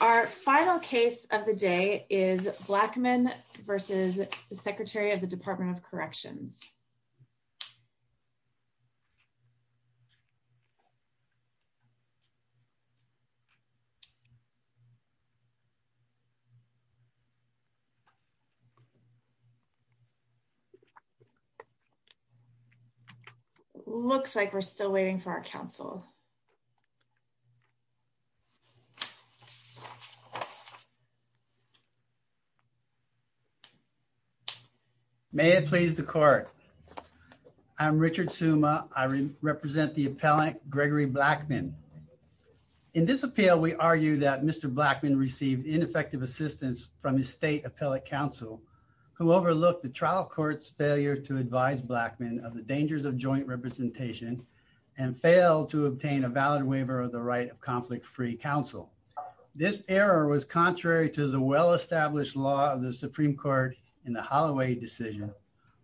Our final case of the day is Blackmon versus the Secretary of the Department of Corrections. Looks like we're still waiting for our counsel. May it please the court. I'm Richard summa, I represent the appellant Gregory Blackman. In this appeal, we argue that Mr. Blackman received ineffective assistance from his state appellate counsel who overlooked the trial courts failure to advise Blackman of the dangers of joint representation and fail to obtain a valid waiver of the right of conflict free counsel. This error was contrary to the well established law of the Supreme Court in the Holloway decision,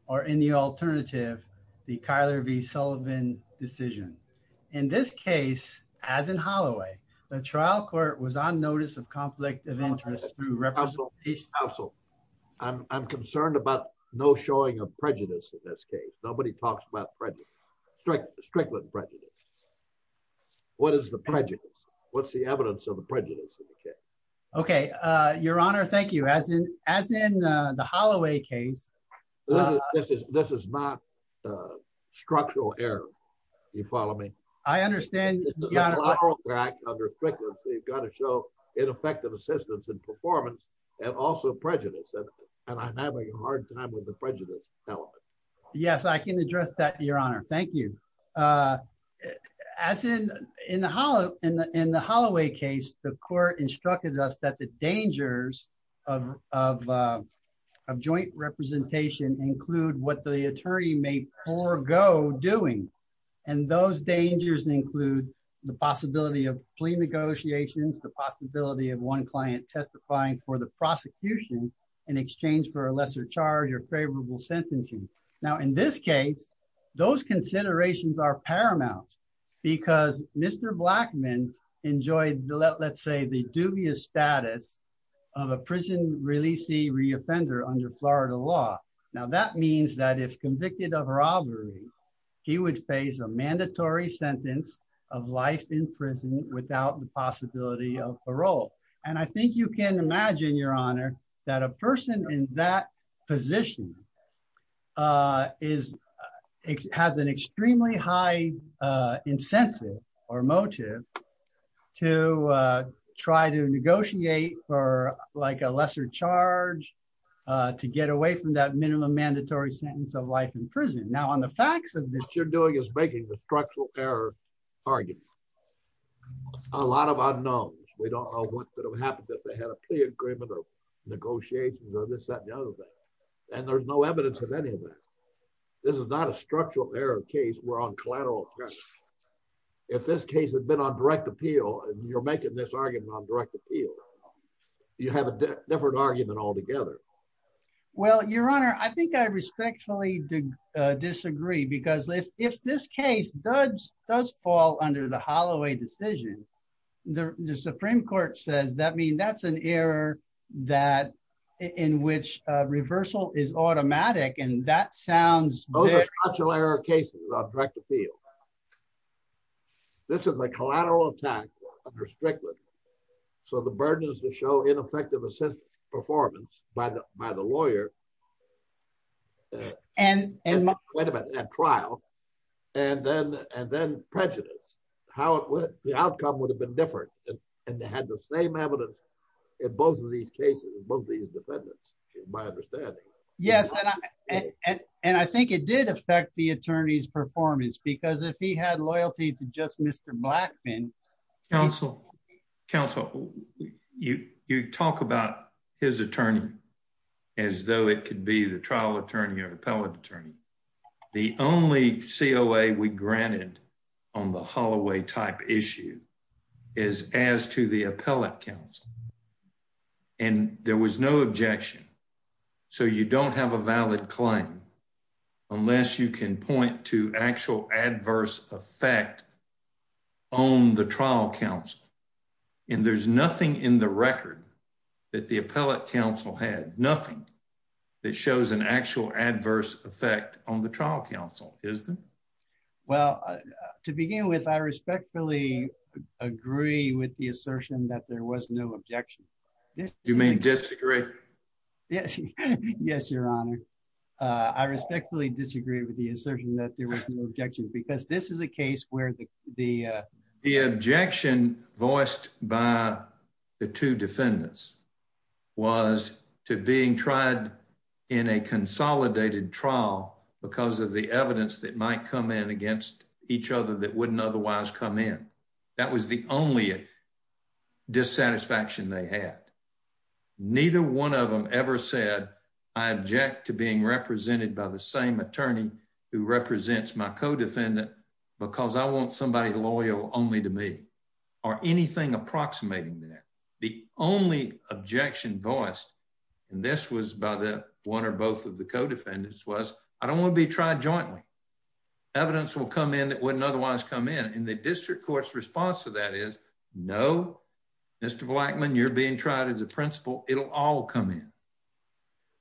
or in the alternative, the Kyler v Sullivan decision. In this case, as in Holloway, the trial court was on notice of conflict of interest to represent I'm concerned about no showing of prejudice in this case. Nobody talks about prejudice. Strictly prejudice. What is the prejudice. What's the evidence of the prejudice. Okay, Your Honor. Thank you. As in, as in the Holloway case. This is, this is not structural error. You follow me. I understand. We've got to show ineffective assistance and performance, and also prejudice, and I'm having a hard time with the prejudice. Yes, I can address that, Your Honor. Thank you. As in, in the Holloway case, the court instructed us that the dangers of joint representation include what the attorney may forego doing. And those dangers include the possibility of plea negotiations, the possibility of one client testifying for the prosecution in exchange for a lesser charge or favorable sentencing. Now, in this case, those considerations are paramount, because Mr. Blackman enjoyed the let's say the dubious status of a prison releasee reoffender under Florida law. Now that means that if convicted of robbery, he would face a mandatory sentence of life in prison without the possibility of parole. And I think you can imagine, Your Honor, that a person in that position. Is, has an extremely high incentive or motive to try to negotiate for like a lesser charge to get away from that minimum mandatory sentence of life in prison. Now on the facts of this. What you're doing is making the structural error argument. A lot of unknowns, we don't know what could have happened if they had a plea agreement or negotiations or this that and the other thing. And there's no evidence of any of that. This is not a structural error case we're on collateral. If this case had been on direct appeal and you're making this argument on direct appeal. You have a different argument altogether. Well, Your Honor, I think I respectfully disagree because if if this case does does fall under the Holloway decision. The Supreme Court says that mean that's an error that in which reversal is automatic and that sounds like a layer of cases on track to feel. This is a collateral attack on restricted. So the burden is to show ineffective assist performance by the, by the lawyer. And, and trial. And then, and then prejudice, how it would be outcome would have been different. And they had the same evidence in both of these cases both these defendants, my understanding. Yes. And I think it did affect the attorneys performance because if he had loyalty to just Mr. Blackman counsel counsel. You, you talk about his attorney, as though it could be the trial attorney or appellate attorney. The only COA we granted on the Holloway type issue is as to the appellate counts. And there was no objection. So you don't have a valid claim. Unless you can point to actual adverse effect on the trial counts. And there's nothing in the record that the appellate counsel had nothing that shows an actual adverse effect on the trial counsel is. Well, to begin with, I respectfully agree with the assertion that there was no objection. You may disagree. Yes, Your Honor. I respectfully disagree with the assertion that there was no objection because this is a case where the, the, the objection voiced by the two defendants was to being tried in a consolidated trial. Because of the evidence that might come in against each other that wouldn't otherwise come in. That was the only dissatisfaction they had. Neither one of them ever said, I object to being represented by the same attorney who represents my co defendant, because I want somebody loyal only to me, or anything approximating there. The only objection voiced. And this was by the one or both of the co defendants was, I don't want to be tried jointly evidence will come in that wouldn't otherwise come in in the district courts response to that is no. Mr Blackman you're being tried as a principal, it'll all come in.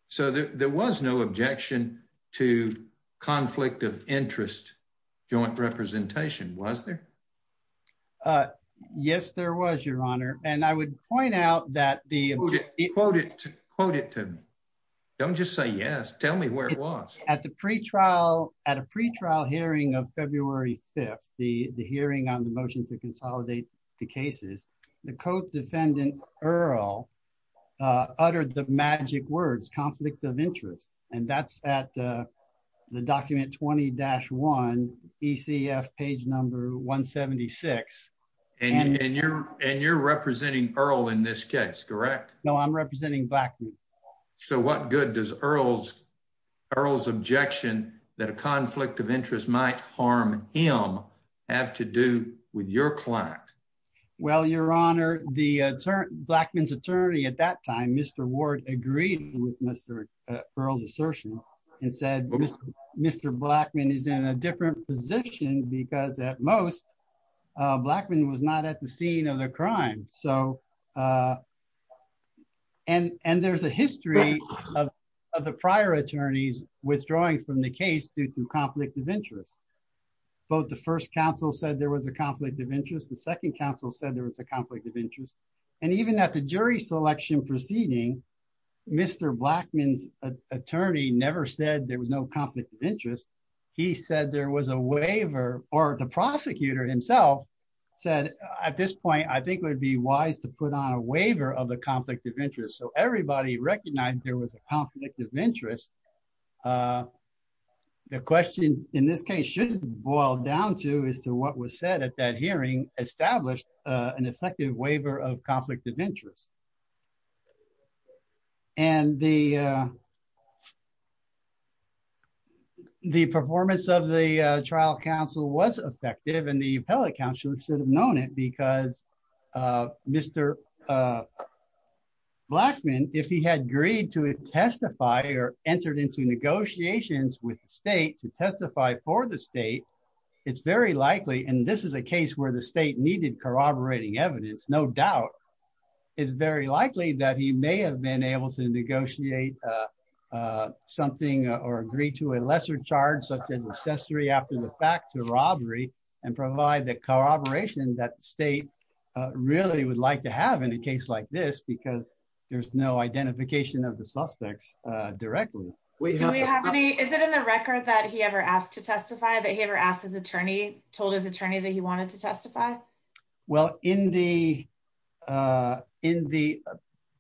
So there was no objection to conflict of interest joint representation was there. Yes, there was Your Honor, and I would point out that the quoted quoted to. Don't just say yes tell me where it was at the pre trial at a pre trial hearing of February 5, the, the hearing on the motion to consolidate the cases. The code defendant, Earl uttered the magic words conflict of interest, and that's at the document 20 dash one ECF page number 176, and you're, and you're representing Earl in this case correct no I'm representing back. So what good does Earl's Earl's objection that a conflict of interest might harm him have to do with your client. Well, Your Honor, the term Blackman's attorney at that time Mr Ward agreed with Mr. Earl's assertion and said, Mr. Mr Blackman is in a different position because at most Blackman was not at the scene of the crime. So, and, and there's a history of the prior attorneys withdrawing from the case due to conflict of interest. Both the first council said there was a conflict of interest. The second council said there was a conflict of interest. And even at the jury selection proceeding. Mr Blackman's attorney never said there was no conflict of interest. He said there was a waiver, or the prosecutor himself said at this point I think would be wise to put on a waiver of the conflict of interest so everybody recognized there was a conflict of interest. The question in this case shouldn't boil down to is to what was said at that hearing established an effective waiver of conflict of interest. And the, the performance of the trial council was effective and the appellate counselor should have known it because Mr. Blackman, if he had agreed to testify or entered into negotiations with the state to testify for the state. It's very likely and this is a case where the state needed corroborating evidence no doubt is very likely that he may have been able to negotiate something or agree to a lesser charge such as accessory after the fact to robbery and provide the corroboration that state really would like to have in a case like this because there's no identification of the suspects directly. Is it in the record that he ever asked to testify that he ever asked his attorney told his attorney that he wanted to testify. Well, in the in the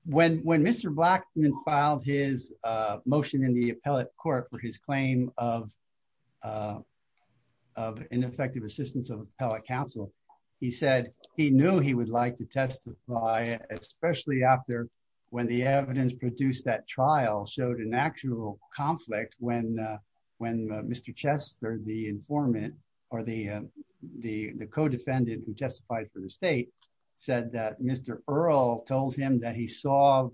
when when Mr. Blackman filed his motion in the appellate court for his claim of ineffective assistance of appellate counsel. He said he knew he would like to testify, especially after when the evidence produced that trial showed an actual conflict when when Mr. Chester the informant, or the, the, the co defendant who testified for the state said that Mr. Earl told him that he saw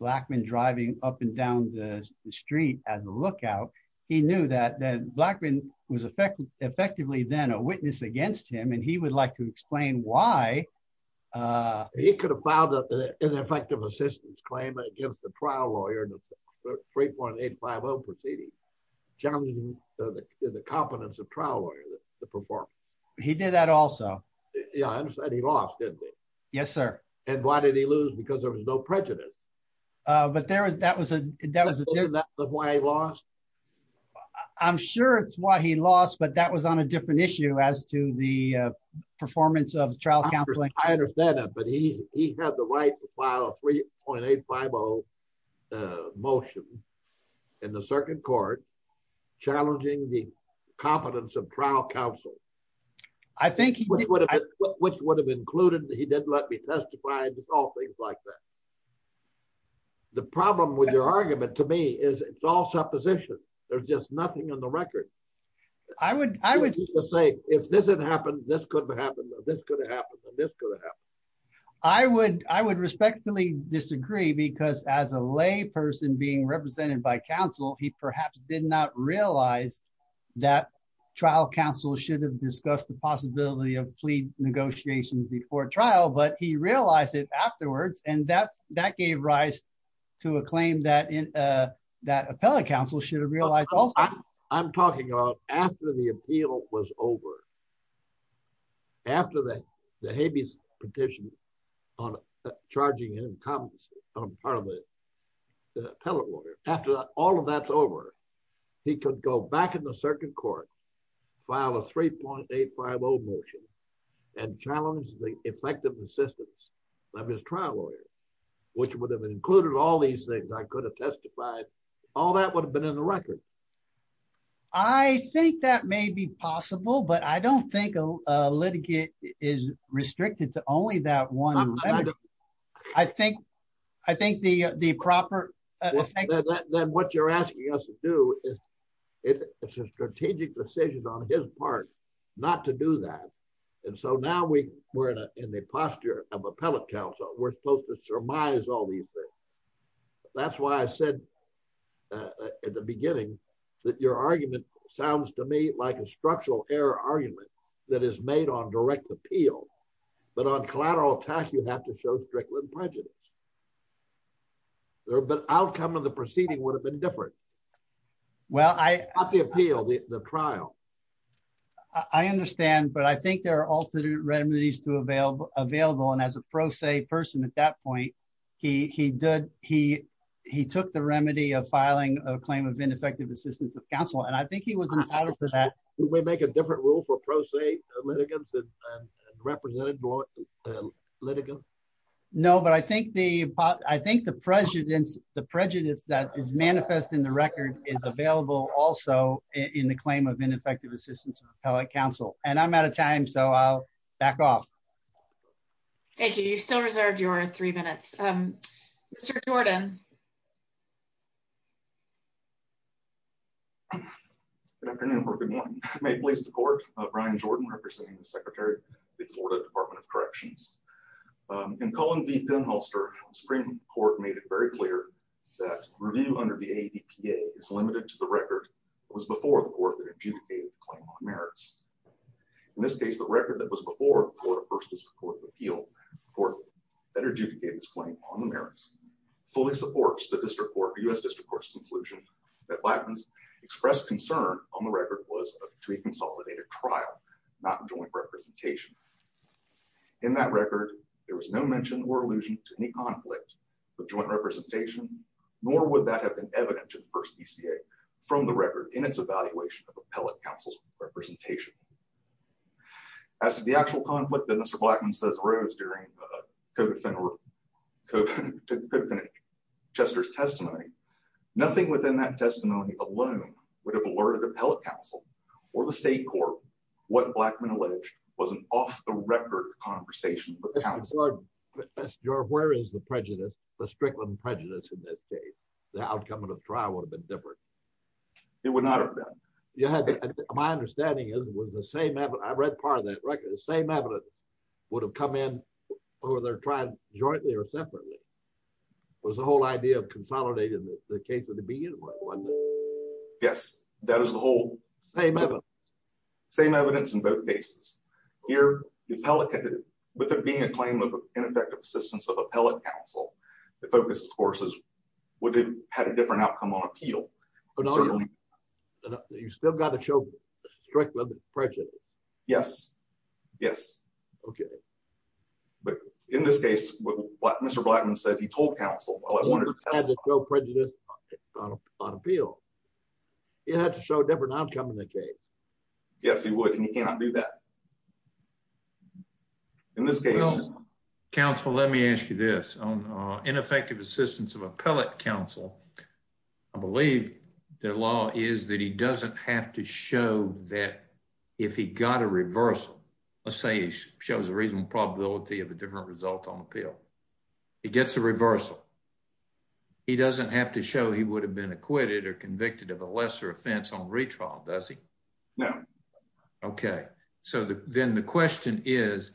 Blackman driving up and down the street as a lookout. He knew that that Blackman was effectively effectively then a witness against him and he would like to explain why he could have filed an effective assistance claim against the trial lawyer and 3.850 proceeding. Generally, the competence of trial lawyer to perform. He did that also. Yeah, I understand he lost it. Yes, sir. And why did he lose because there was no prejudice. But there is that was a, that was a loss. I'm sure it's why he lost but that was on a different issue as to the performance of trial. I understand that but he he had the right to file a 3.850 motion in the circuit court, challenging the competence of trial counsel. I think he would have, which would have included that he didn't let me testify and all things like that. The problem with your argument to me is it's all supposition. There's just nothing on the record. I would, I would say, if this had happened, this could have happened, this could have happened, this could have happened. I would, I would respectfully disagree because as a lay person being represented by counsel, he perhaps did not realize that trial counsel should have discussed the possibility of plea negotiations before trial but he realized it afterwards and that that gave rise to a claim that in that appellate counsel should have realized. I'm talking about after the appeal was over. After that, the habeas petition on charging him comments on part of the appellate lawyer, after all of that's over. He could go back in the circuit court file a 3.850 motion and challenge the effective assistance of his trial lawyer, which would have included all these things I could have testified, all that would have been in the record. I think that may be possible but I don't think a litigate is restricted to only that one. I think, I think the the proper. What you're asking us to do is it's a strategic decision on his part, not to do that. And so now we were in the posture of appellate counsel, we're supposed to surmise all these things. That's why I said at the beginning that your argument sounds to me like a structural error argument that is made on direct appeal, but on collateral tax you have to show strickland prejudice there but outcome of the proceeding would have been different. Well, I appeal the trial. I understand but I think there are alternate remedies to avail available and as a pro se person at that point, he did, he, he took the remedy of filing a claim of ineffective assistance of counsel and I think he was entitled to that we make a different rule for pro se litigants and representative litigant. No, but I think the, I think the president's the prejudice that is manifest in the record is available also in the claim of ineffective assistance appellate counsel, and I'm out of time so I'll back off. Thank you. You still reserve your three minutes. Jordan. Good afternoon or good morning, may please the court of Brian Jordan representing the Secretary, the Florida Department of Corrections and calling the pinholster Supreme Court made it very clear that review under the APA is limited to the record was before the court merits. In this case, the record that was before for first court appeal for energy to get this claim on the merits fully supports the district or us just of course conclusion that weapons express concern on the record was to consolidate a trial, not joint representation. In that record, there was no mention or allusion to any conflict of joint representation, nor would that have been evident to the first PCA from the record in its evaluation of appellate counsel's representation. As the actual conflict that Mr blackman says rose during to finish Chester's testimony. Nothing within that testimony alone would have alerted appellate counsel or the state court. What blackman alleged wasn't off the record conversation with your where is the prejudice, the strickland prejudice in this case, the outcome of the trial would have been different. It would not have been. Yeah. My understanding is it was the same. I read part of that record the same evidence would have come in, or they're trying jointly or separately was the whole idea of consolidating the case at the beginning. Yes, that is the whole same. Same evidence in both cases here, the pelleted with a being a claim of ineffective assistance of appellate counsel to focus courses would have had a different outcome on appeal. You still got to show strickland prejudice. Yes, yes. Okay. But in this case, what Mr blackman said he told counsel prejudice on appeal. You have to show a different outcome in the case. Yes, he would and you cannot do that. In this case, counsel, let me ask you this ineffective assistance of appellate counsel. I believe their law is that he doesn't have to show that if he got a reversal. Let's say shows a reasonable probability of a different result on appeal. It gets a reversal. He doesn't have to show he would have been acquitted or convicted of a lesser offense on retrial, does he know. Okay, so then the question is,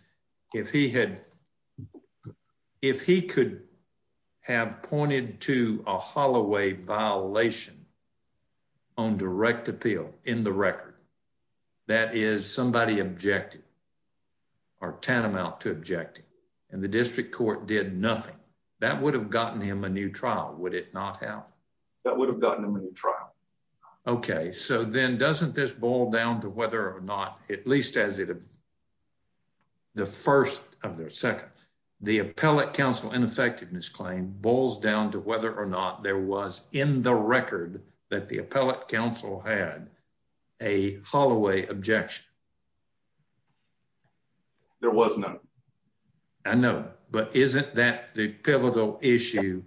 if he had. If he could have pointed to a Holloway violation on direct appeal in the record. That is somebody objected or tantamount to object, and the district court did nothing that would have gotten him a new trial would it not have that would have gotten a new trial. Okay, so then doesn't this boil down to whether or not, at least as it. The first of their second, the appellate counsel and effectiveness claim boils down to whether or not there was in the record that the appellate counsel had a Holloway objection. There was no. I know, but isn't that the pivotal issue.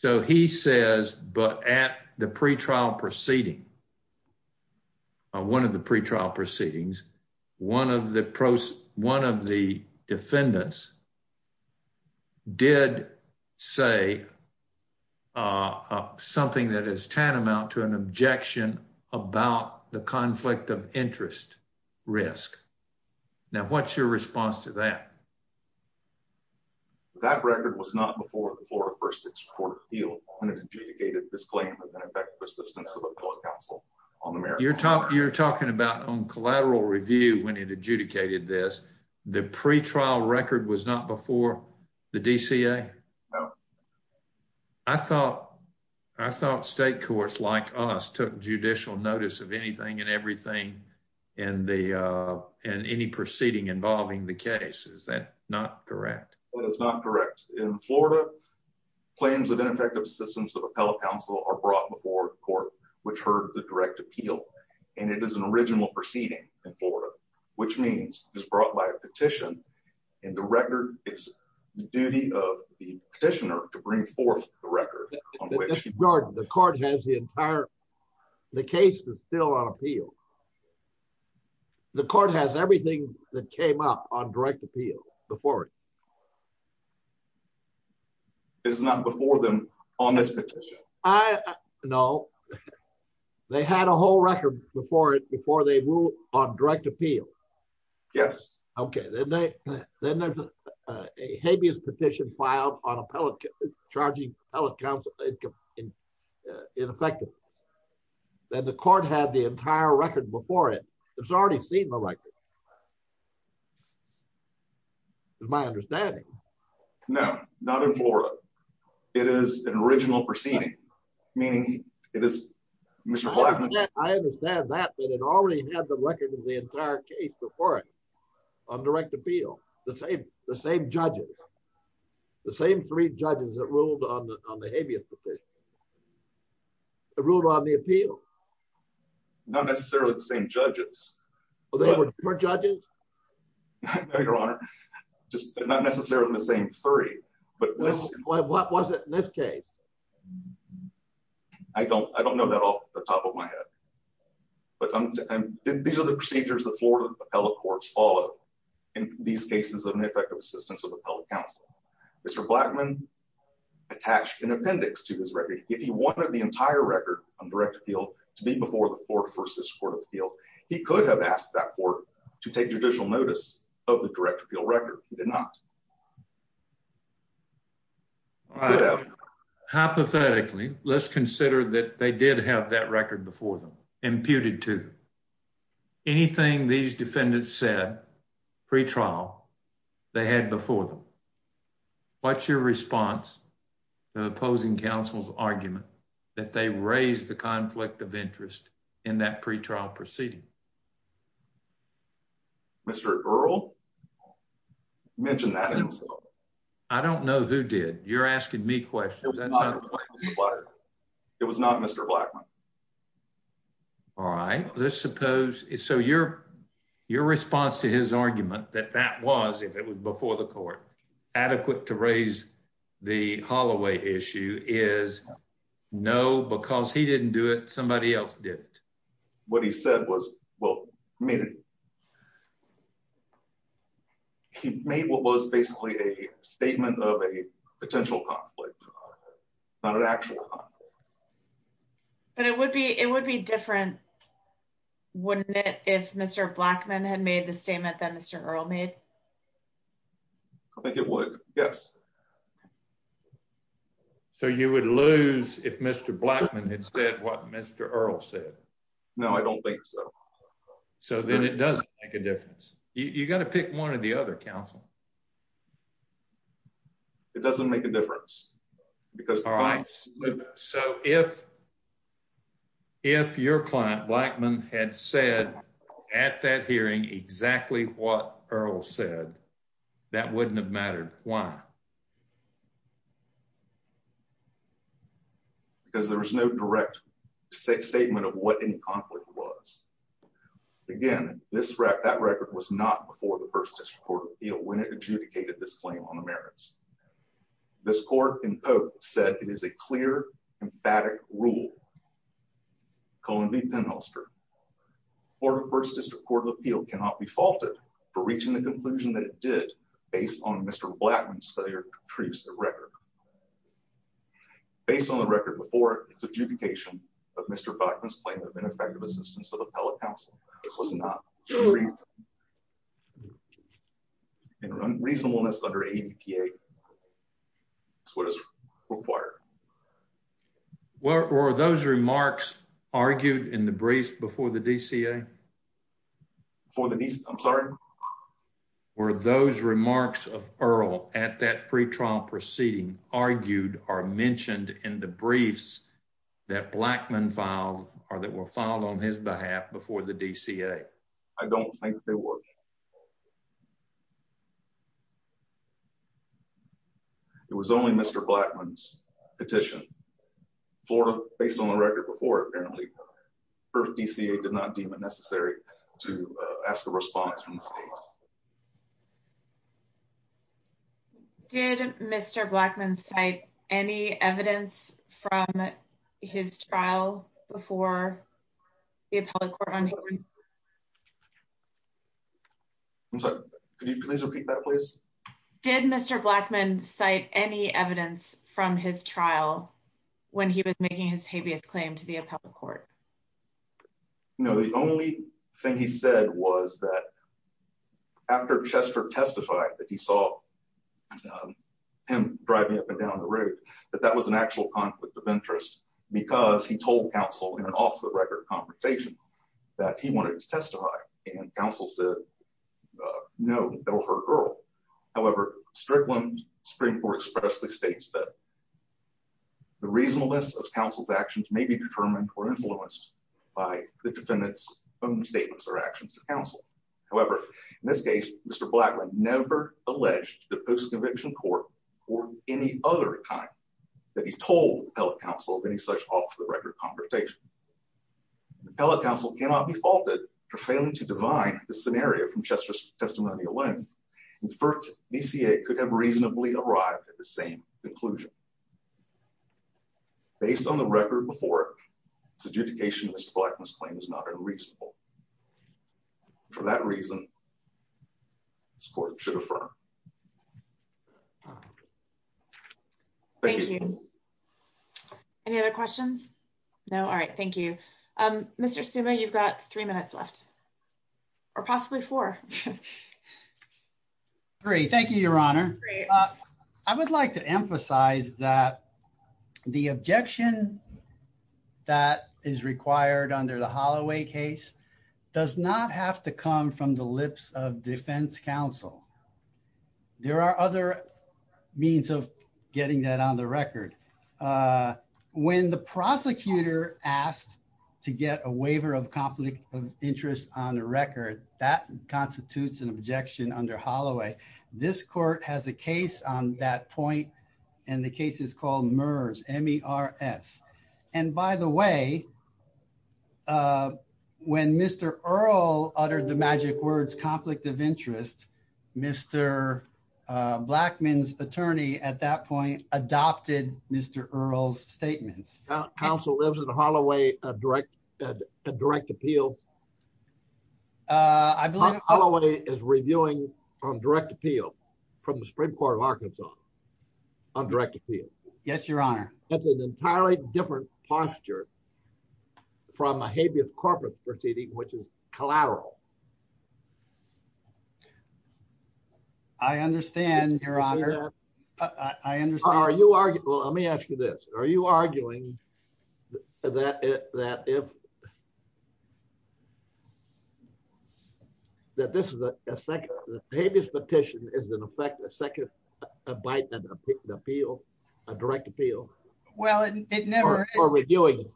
So he says, but at the pre trial proceeding. One of the pre trial proceedings. One of the pros, one of the defendants did say something that is tantamount to an objection about the conflict of interest risk. Now what's your response to that. That record was not before the floor first court field, and it adjudicated this claim of an effective assistance to the public counsel on America. You're talking about on collateral review when it adjudicated this, the pre trial record was not before the DCA. I thought I thought state courts like us took judicial notice of anything and everything, and the, and any proceeding involving the case is that not correct. In Florida, plans of ineffective assistance of appellate counsel are brought before the court, which heard the direct appeal, and it is an original proceeding in Florida, which means is brought by a petition, and the record is duty of the petitioner to bring forth the record. The court has the entire. The case is still on appeal. The court has everything that came up on direct appeal before it is not before them on this petition. I know they had a whole record before it before they move on direct appeal. Yes. Okay. Then there's a habeas petition filed on appellate charging council. In effect, that the court had the entire record before it. It's already seen the record. My understanding. No, not in Florida. It is an original proceeding. Meaning, it is. I understand that but it already had the record of the entire case before it on direct appeal, the same, the same judges. The same three judges that ruled on the habeas petition. The rule on the appeal. Not necessarily the same judges, or judges. Your Honor, just not necessarily the same 30, but what was it in this case. I don't I don't know that off the top of my head. But these are the procedures that Florida appellate courts all in these cases of an effective assistance of appellate counsel. Mr. Blackman attached an appendix to his record, if he wanted the entire record on direct appeal to be before the floor versus court of appeal, he could have asked that for to take judicial notice of the direct appeal record, did not hypothetically, let's consider that they did have that record before them imputed to anything these defendants said pre trial. They had before them. What's your response. The opposing counsel's argument that they raise the conflict of interest in that pre trial proceeding. Mr. Earl mentioned that. I don't know who did you're asking me questions. It was not Mr. Blackman. All right, let's suppose is so your, your response to his argument that that was if it was before the court adequate to raise the Holloway issue is no because he didn't do it somebody else did it. What he said was, well, maybe he made what was basically a statement of a potential conflict, not an actual. But it would be it would be different. Wouldn't it if Mr. Blackman had made the statement that Mr. Earl made. Yes. So you would lose if Mr. Blackman had said what Mr. Earl said. No, I don't think so. So then it doesn't make a difference. You got to pick one of the other counsel. It doesn't make a difference. So, if, if your client Blackman had said at that hearing exactly what Earl said, that wouldn't have mattered. Why? Because there was no direct statement of what in conflict was. Again, this wreck that record was not before the first court when it adjudicated this claim on the merits. This court said it is a clear, emphatic rule. Columbia penholster. First District Court of Appeal cannot be faulted for reaching the conclusion that it did based on Mr. Blackman's failure to produce the record. Based on the record before, it's adjudication of Mr. Blackman's claim of ineffective assistance of appellate counsel. This was not. In reasonableness under APA. That's what is required. Were those remarks argued in the brief before the DCA? For the DCA, I'm sorry? Were those remarks of Earl at that pretrial proceeding argued or mentioned in the briefs that Blackman filed or that were filed on his behalf before the DCA? I don't think they were. It was only Mr. Blackman's petition. Based on the record before, apparently, the DCA did not deem it necessary to ask a response from the state. Did Mr. Blackman cite any evidence from his trial before the appellate court? I'm sorry, could you please repeat that, please? Did Mr. Blackman cite any evidence from his trial when he was making his habeas claim to the appellate court? The only thing he said was that after Chester testified that he saw him driving up and down the road, that that was an actual conflict of interest because he told counsel in an off-the-record conversation that he wanted to testify. And counsel said, no, that'll hurt Earl. However, Strickland's Supreme Court expressly states that the reasonableness of counsel's actions may be determined or influenced by the defendant's own statements or actions to counsel. However, in this case, Mr. Blackman never alleged to the post-conviction court or any other time that he told the appellate counsel of any such off-the-record conversation. The appellate counsel cannot be faulted for failing to divine the scenario from Chester's testimony alone. The first DCA could have reasonably arrived at the same conclusion. Based on the record before it, the adjudication of Mr. Blackman's claim is not unreasonable. For that reason, this court should affirm. Thank you. Any other questions? No. All right. Thank you. Mr. Suma, you've got three minutes left. Or possibly four. Great. Thank you, Your Honor. I would like to emphasize that the objection that is required under the Holloway case does not have to come from the lips of defense counsel. There are other means of getting that on the record. When the prosecutor asked to get a waiver of conflict of interest on the record, that constitutes an objection under Holloway. This court has a case on that point, and the case is called MERS, M-E-R-S. And by the way, when Mr. Earle uttered the magic words conflict of interest, Mr. Blackman's attorney at that point adopted Mr. Earle's statements. Counsel lives in Holloway at direct appeal? I believe it. Holloway is reviewing on direct appeal from the Supreme Court of Arkansas on direct appeal. Yes, Your Honor. That's an entirely different posture from a habeas corporate proceeding, which is collateral. I understand, Your Honor. I understand. Well, let me ask you this. Are you arguing that if this is a second habeas petition, is it in effect a second abiding appeal, a direct appeal? Well, it never is. Or reviewing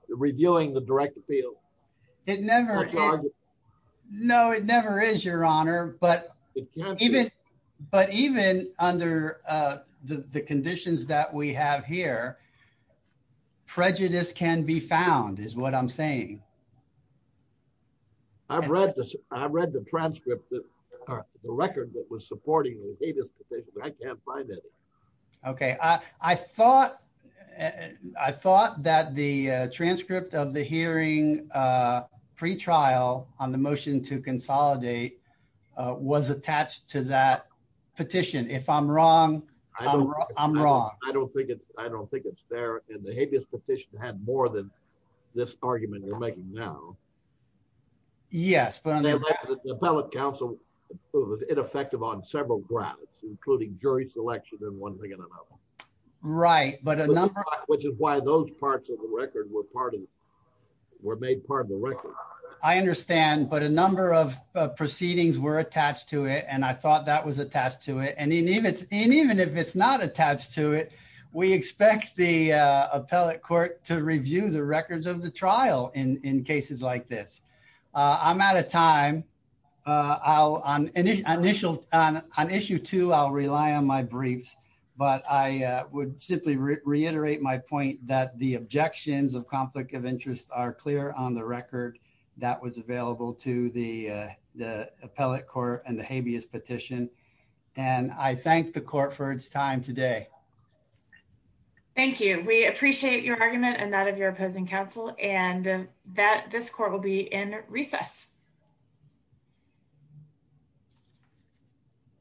the direct appeal? It never is. No, it never is, Your Honor. But even under the conditions that we have here, prejudice can be found is what I'm saying. I've read the transcript of the record that was supporting the habeas petition, but I can't find it. Okay. I thought that the transcript of the hearing pretrial on the motion to consolidate was attached to that petition. If I'm wrong, I'm wrong. I don't think it's there. And the habeas petition had more than this argument you're making now. Yes. The appellate counsel was ineffective on several grounds, including jury selection and one thing or another. Right. Which is why those parts of the record were made part of the record. I understand. But a number of proceedings were attached to it, and I thought that was attached to it. And even if it's not attached to it, we expect the appellate court to review the records of the trial in cases like this. I'm out of time. On issue two, I'll rely on my briefs. But I would simply reiterate my point that the objections of conflict of interest are clear on the record that was available to the appellate court and the habeas petition. And I thank the court for its time today. Thank you. We appreciate your argument and that of your opposing counsel and that this court will be in recess.